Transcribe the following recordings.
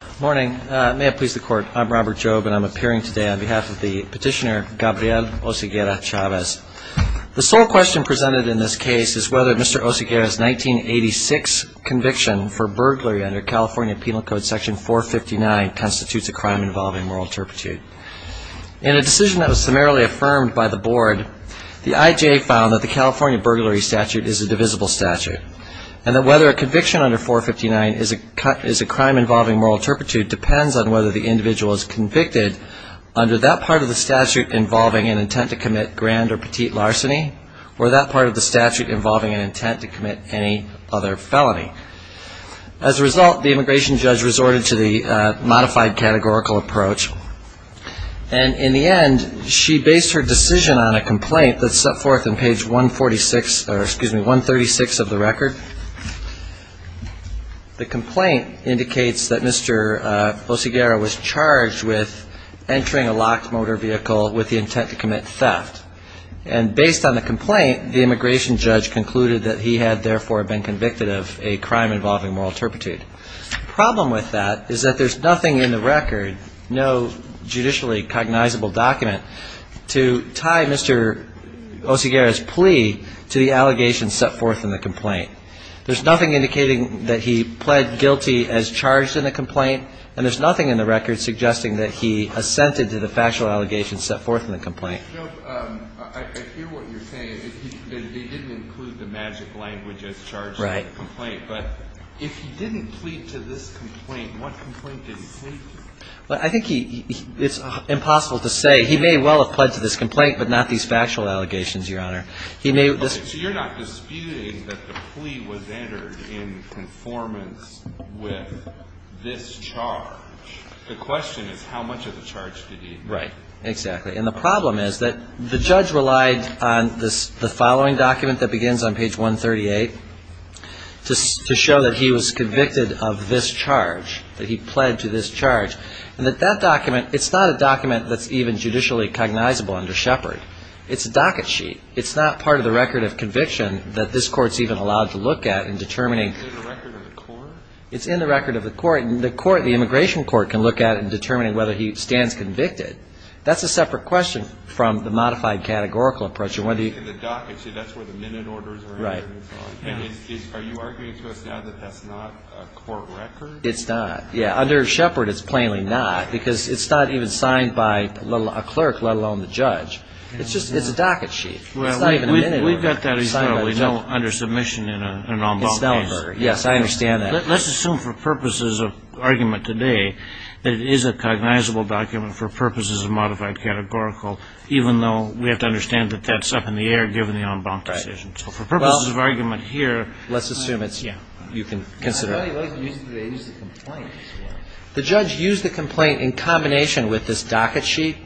Good morning. May it please the Court, I'm Robert Jobe and I'm appearing today on behalf of the petitioner Gabriel Oseguera-Chavez. The sole question presented in this case is whether Mr. Oseguera's 1986 conviction for burglary under California Penal Code Section 459 constitutes a crime involving moral turpitude. In a decision that was summarily affirmed by the Board, the IJA found that the California burglary statute is a divisible statute and that whether a conviction under 459 is a crime involving moral turpitude depends on whether the individual is convicted under that part of the statute involving an intent to commit grand or petite larceny or that part of the statute involving an intent to commit any other felony. As a result, the immigration judge resorted to the modified categorical approach and in the end, she based her decision on a complaint that's set forth in page 146, or excuse me, 136 of the record. The complaint indicates that Mr. Oseguera was charged with entering a locked motor vehicle with the intent to commit theft and based on the complaint, the immigration judge concluded that he had therefore been convicted of a crime involving moral turpitude. The problem with that is that there's nothing in the record, no judicially cognizable document, to tie Mr. Oseguera's plea to the allegations set forth in the complaint. There's nothing indicating that he pled guilty as charged in the complaint and there's nothing in the record suggesting that he assented to the factual allegations set forth in the complaint. I hear what you're saying, that he didn't include the magic language as charged in the complaint. Right. But if he didn't plead to this complaint, what complaint did he plead to? Well, I think it's impossible to say. He may well have pledged to this complaint, but not these factual allegations, Your Honor. So you're not disputing that the plea was entered in conformance with this charge. The question is how much of the charge did he need? Right. Exactly. And the problem is that the judge relied on the following document that begins on page 138 to show that he was convicted of this charge, that he pled to this charge, and that that document, it's not a document that's even judicially cognizable under Shepard. It's a docket sheet. It's not part of the record of conviction that this court's even allowed to look at in determining. Is it in the record of the court? It's in the record of the court. The immigration court can look at it in determining whether he stands convicted. That's a separate question from the modified categorical approach. In the docket sheet, that's where the minute orders are entered and so on. Right. And are you arguing to us now that that's not a court record? It's not. Under Shepard, it's plainly not because it's not even signed by a clerk, let alone the judge. It's a docket sheet. It's not even a minute order. We've got that, as you know, under submission in an en banc case. It's not a record. Yes, I understand that. Let's assume for purposes of argument today that it is a cognizable document for purposes of modified categorical, even though we have to understand that that's up in the air given the en banc decision. So for purposes of argument here, let's assume you can consider it. I'd really like to use the complaint. The judge used the complaint in combination with this docket sheet.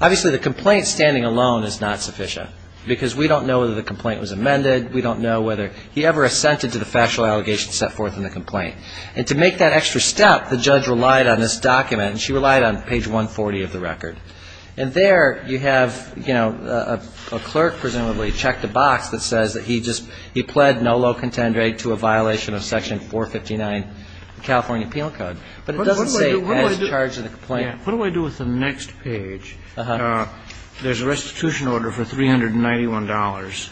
Obviously, the complaint standing alone is not sufficient because we don't know whether the complaint was amended. We don't know whether he ever assented to the factual allegations set forth in the complaint. And to make that extra step, the judge relied on this document. And she relied on page 140 of the record. And there you have, you know, a clerk presumably checked a box that says that he just he pled no low contend rate to a violation of section 459 of the California Appeal Code. But it doesn't say he's charged in the complaint. What do I do with the next page? Uh-huh. There's a restitution order for $391.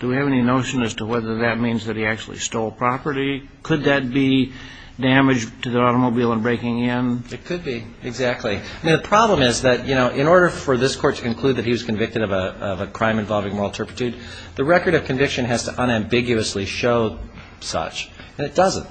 Do we have any notion as to whether that means that he actually stole property? Could that be damage to the automobile in breaking in? It could be, exactly. I mean, the problem is that, you know, in order for this court to conclude that he was convicted of a crime involving moral turpitude, the record of conviction has to unambiguously show such. And it doesn't.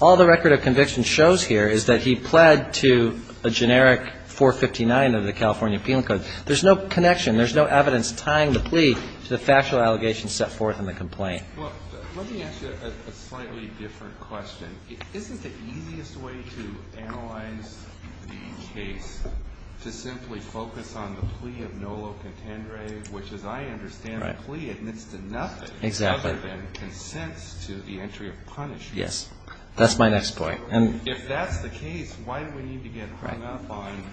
All the record of conviction shows here is that he pled to a generic 459 of the California Appeal Code. There's no connection. There's no evidence tying the plea to the factual allegations set forth in the complaint. Well, let me ask you a slightly different question. Isn't the easiest way to analyze the case to simply focus on the plea of no low contend rate, which as I understand the plea admits to nothing other than consents to the entry of punishment? Yes. That's my next point. If that's the case, why do we need to get hung up on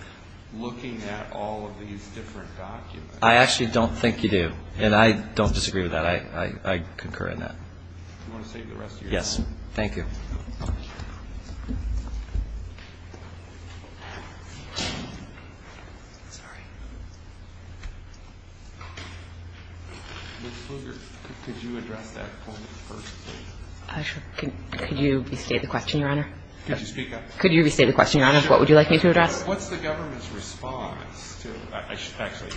looking at all of these different documents? I actually don't think you do. And I don't disagree with that. I concur in that. Do you want to save the rest of your time? Yes. Thank you. Sorry. Ms. Pflugert, could you address that point first, please? Sure. Could you restate the question, Your Honor? Could you speak up? Could you restate the question, Your Honor? What would you like me to address? What's the government's response to – actually,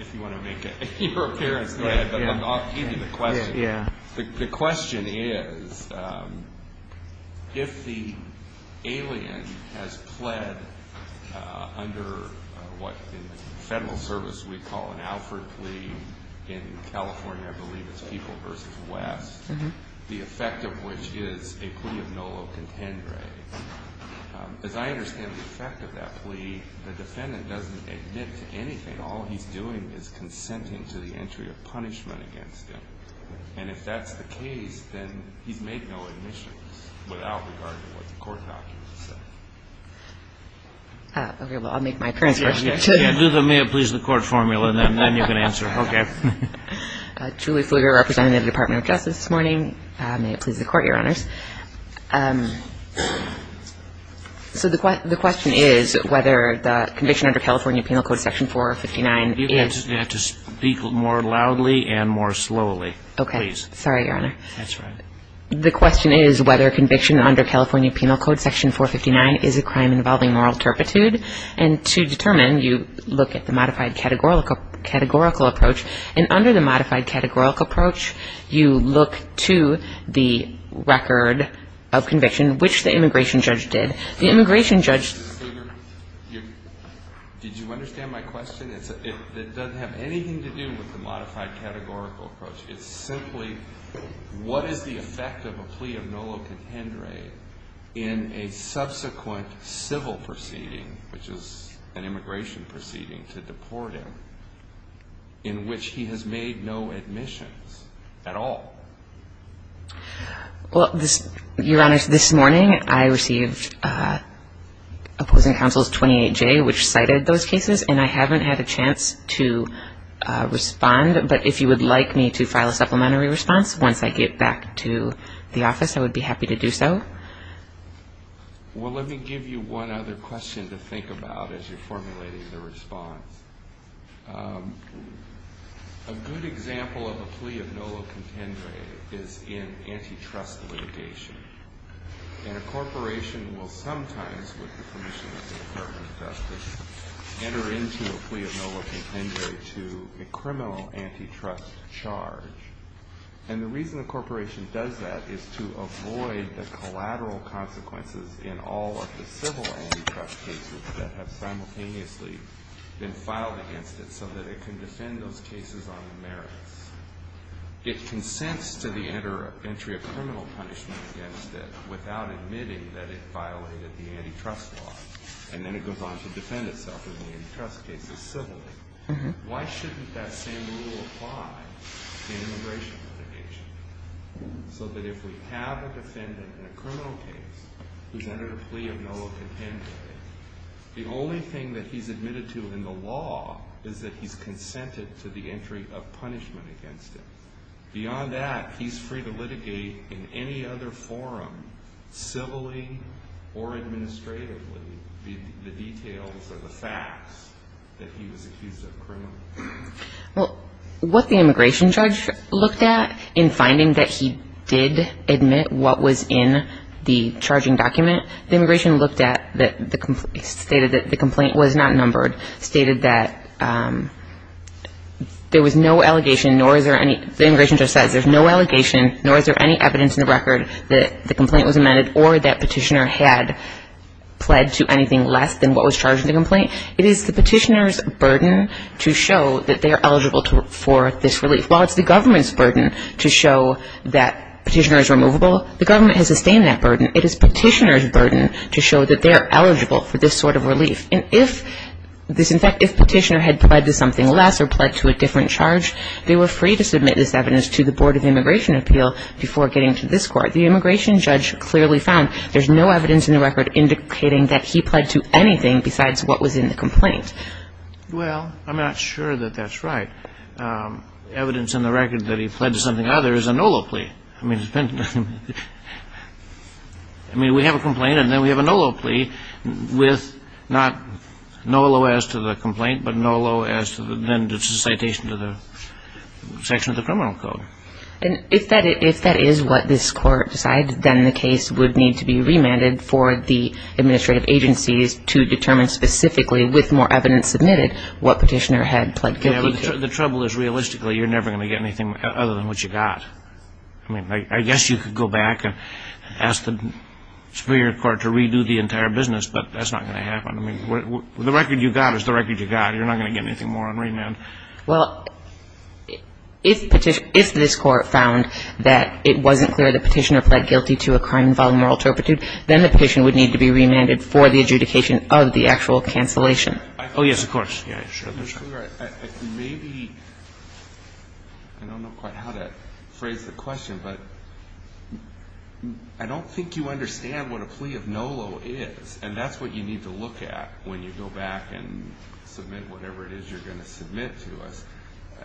if you want to make it your appearance, go ahead. But I'll give you the question. Yeah. The question is if the alien has pled under what in federal service we call an Alfred plea in California, I believe it's People v. West, the effect of which is a plea of nolo contendere. As I understand the effect of that plea, the defendant doesn't admit to anything. All he's doing is consenting to the entry of punishment against him. And if that's the case, then he's made no admissions without regard to what the court documents say. Okay. Well, I'll make my appearance first. Please the court formula, and then you can answer. Okay. Julie Fulger representing the Department of Justice this morning. May it please the court, Your Honors. So the question is whether the conviction under California Penal Code Section 459 is – You're going to have to speak more loudly and more slowly, please. Okay. Sorry, Your Honor. That's all right. The question is whether conviction under California Penal Code Section 459 is a crime involving moral turpitude. And to determine, you look at the modified categorical approach. And under the modified categorical approach, you look to the record of conviction, which the immigration judge did. The immigration judge – Ms. Fulger, did you understand my question? It doesn't have anything to do with the modified categorical approach. It's simply what is the effect of a plea of nolo contendere in a subsequent civil proceeding, which is an immigration proceeding to deport him, in which he has made no admissions at all? Well, Your Honors, this morning I received opposing counsel's 28J, which cited those cases, and I haven't had a chance to respond. But if you would like me to file a supplementary response once I get back to the office, I would be happy to do so. Well, let me give you one other question to think about as you're formulating the response. A good example of a plea of nolo contendere is in antitrust litigation. And a corporation will sometimes, with the permission of the Department of Justice, enter into a plea of nolo contendere to a criminal antitrust charge. And the reason a corporation does that is to avoid the collateral consequences in all of the civil antitrust cases that have simultaneously been filed against it so that it can defend those cases on the merits. It consents to the entry of criminal punishment against it without admitting that it violated the antitrust law. And then it goes on to defend itself in the antitrust cases civilly. Why shouldn't that same rule apply in immigration litigation? So that if we have a defendant in a criminal case who's entered a plea of nolo contendere, the only thing that he's admitted to in the law is that he's consented to the entry of punishment against it. Beyond that, he's free to litigate in any other forum, civilly or administratively, the details or the facts that he was accused of criminal. Well, what the immigration judge looked at in finding that he did admit what was in the charging document, the immigration looked at that stated that the complaint was not numbered, stated that there was no allegation, nor is there any, the immigration judge says there's no allegation, nor is there any evidence in the record that the complaint was amended or that petitioner had pled to anything less than what was charged in the complaint. It is the petitioner's burden to show that they are eligible for this relief. While it's the government's burden to show that petitioner is removable, the government has sustained that burden. It is petitioner's burden to show that they are eligible for this sort of relief. And if this, in fact, if petitioner had pled to something less or pled to a different charge, they were free to submit this evidence to the Board of Immigration Appeal before getting to this court. The immigration judge clearly found there's no evidence in the record indicating that he pled to anything besides what was in the complaint. Well, I'm not sure that that's right. Evidence in the record that he pled to something other is a NOLO plea. I mean, it's been, I mean, we have a complaint and then we have a NOLO plea with not NOLO as to the complaint, but NOLO as to the, then it's a citation to the section of the criminal code. And if that is what this court decides, then the case would need to be remanded for the administrative agencies to determine specifically, with more evidence submitted, what petitioner had pled guilty to. Yeah, but the trouble is, realistically, you're never going to get anything other than what you got. I mean, I guess you could go back and ask the Superior Court to redo the entire business, but that's not going to happen. I mean, the record you got is the record you got. You're not going to get anything more on remand. Well, if this court found that it wasn't clear the petitioner pled guilty to a crime involving moral turpitude, then the petition would need to be remanded for the adjudication of the actual cancellation. Oh, yes, of course. Maybe, I don't know quite how to phrase the question, but I don't think you understand what a plea of NOLO is, and that's what you need to look at when you go back and submit whatever it is you're going to submit to us.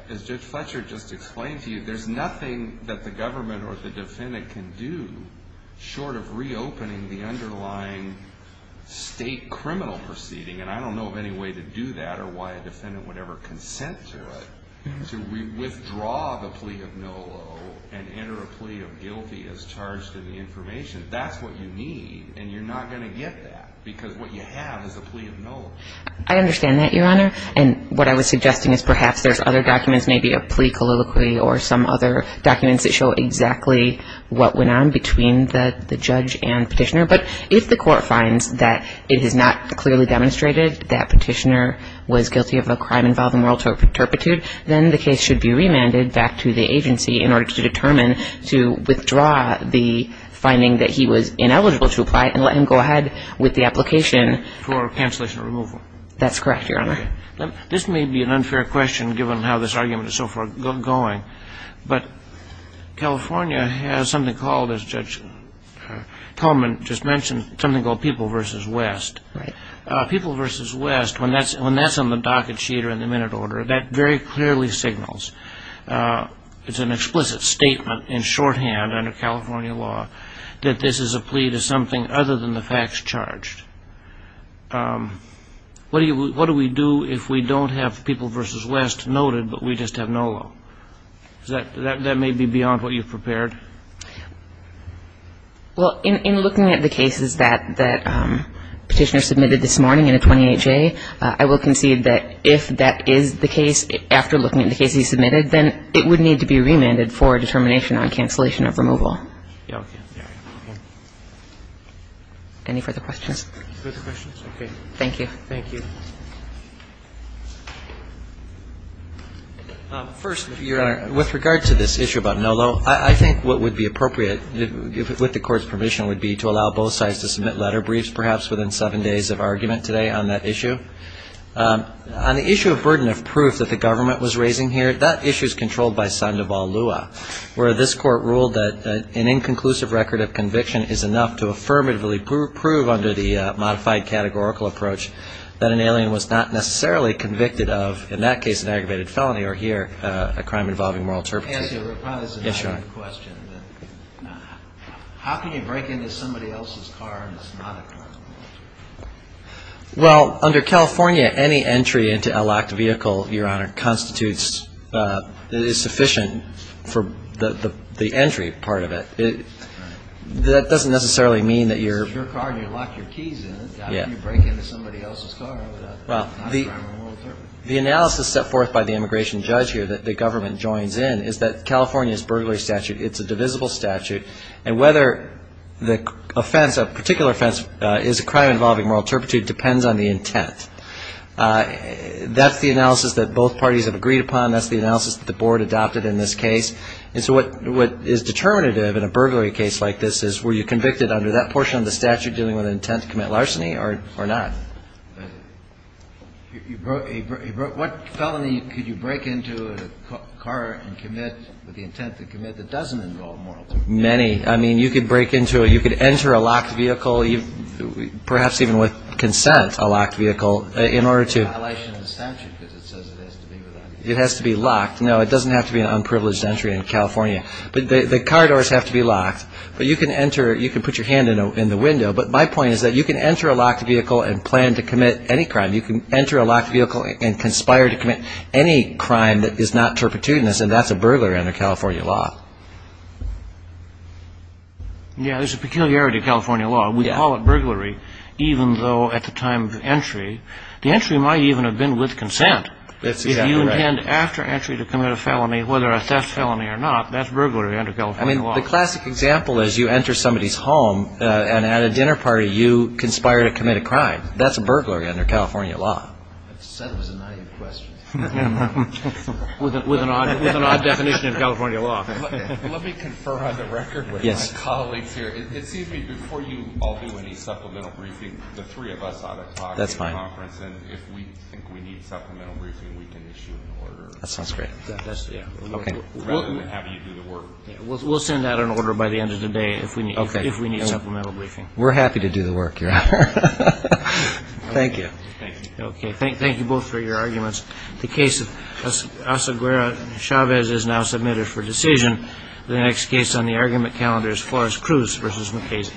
As Judge Fletcher just explained to you, there's nothing that the government or the defendant can do short of reopening the underlying state criminal proceeding, and I don't know of any way to do that or why a defendant would ever consent to it. So we withdraw the plea of NOLO and enter a plea of guilty as charged in the information. That's what you need, and you're not going to get that because what you have is a plea of NOLO. I understand that, Your Honor, and what I was suggesting is perhaps there's other documents, maybe a plea colloquy or some other documents that show exactly what went on between the judge and petitioner, but if the court finds that it has not clearly demonstrated that petitioner was guilty of a crime involving moral turpitude, then the case should be remanded back to the agency in order to determine, to withdraw the finding that he was ineligible to apply and let him go ahead with the application. For cancellation or removal. That's correct, Your Honor. This may be an unfair question given how this argument is so far going, but California has something called, as Judge Coleman just mentioned, something called People v. West. People v. West, when that's on the docket sheet or in the minute order, that very clearly signals, it's an explicit statement in shorthand under California law, that this is a plea to something other than the facts charged. What do we do if we don't have People v. West noted, but we just have NOLO? That may be beyond what you've prepared. Well, in looking at the cases that petitioner submitted this morning in a 28-J, I will concede that if that is the case, after looking at the case he submitted, then it would need to be remanded for determination on cancellation of removal. Okay. Any further questions? Okay. Thank you. Thank you. First, Your Honor, with regard to this issue about NOLO, I think what would be appropriate with the Court's permission would be to allow both sides to submit letter briefs, perhaps within seven days of argument today on that issue. On the issue of burden of proof that the government was raising here, that issue is controlled by Sandoval Lua, where this Court ruled that an inconclusive record of conviction is enough to affirmatively prove under the modified categorical approach that an alien was not necessarily convicted of, in that case, an aggravated felony, or here, a crime involving moral turpitude. As you reply to the question, how can you break into somebody else's car and it's not a car? Well, under California, any entry into a locked vehicle, Your Honor, constitutes sufficient for the entry part of it. That doesn't necessarily mean that you're – It's your car and you lock your keys in it. How can you break into somebody else's car without a crime of moral turpitude? The analysis set forth by the immigration judge here that the government joins in is that California's burglary statute, it's a divisible statute, and whether the offense, a particular offense, is a crime involving moral turpitude depends on the intent. That's the analysis that both parties have agreed upon. That's the analysis that the Board adopted in this case. And so what is determinative in a burglary case like this is, were you convicted under that portion of the statute dealing with an intent to commit larceny or not? What felony could you break into a car and commit with the intent to commit that doesn't involve moral turpitude? Many. I mean, you could break into it. You could enter a locked vehicle, perhaps even with consent, a locked vehicle, in order to – It's a violation of the statute because it says it has to be without – It has to be locked. No, it doesn't have to be an unprivileged entry in California. The car doors have to be locked. But you can enter – you can put your hand in the window. But my point is that you can enter a locked vehicle and plan to commit any crime. You can enter a locked vehicle and conspire to commit any crime that is not turpitudinous, and that's a burglar under California law. Yeah, there's a peculiarity to California law. We call it burglary, even though at the time of entry – The entry might even have been with consent. That's exactly right. If you intend after entry to commit a felony, whether a theft felony or not, that's burglary under California law. I mean, the classic example is you enter somebody's home and at a dinner party you conspire to commit a crime. That's a burglary under California law. I said it was a naive question. With an odd definition of California law. Let me confer on the record with my colleagues here. It seems to me before you all do any supplemental briefing, the three of us ought to talk. That's fine. And if we think we need supplemental briefing, we can issue an order. That sounds great. Rather than have you do the work. We'll send out an order by the end of the day if we need supplemental briefing. We're happy to do the work, Your Honor. Thank you. Thank you. Okay. Thank you both for your arguments. The case of Asaguera and Chavez is now submitted for decision. The next case on the argument calendar is Forrest Cruz v. McCasey.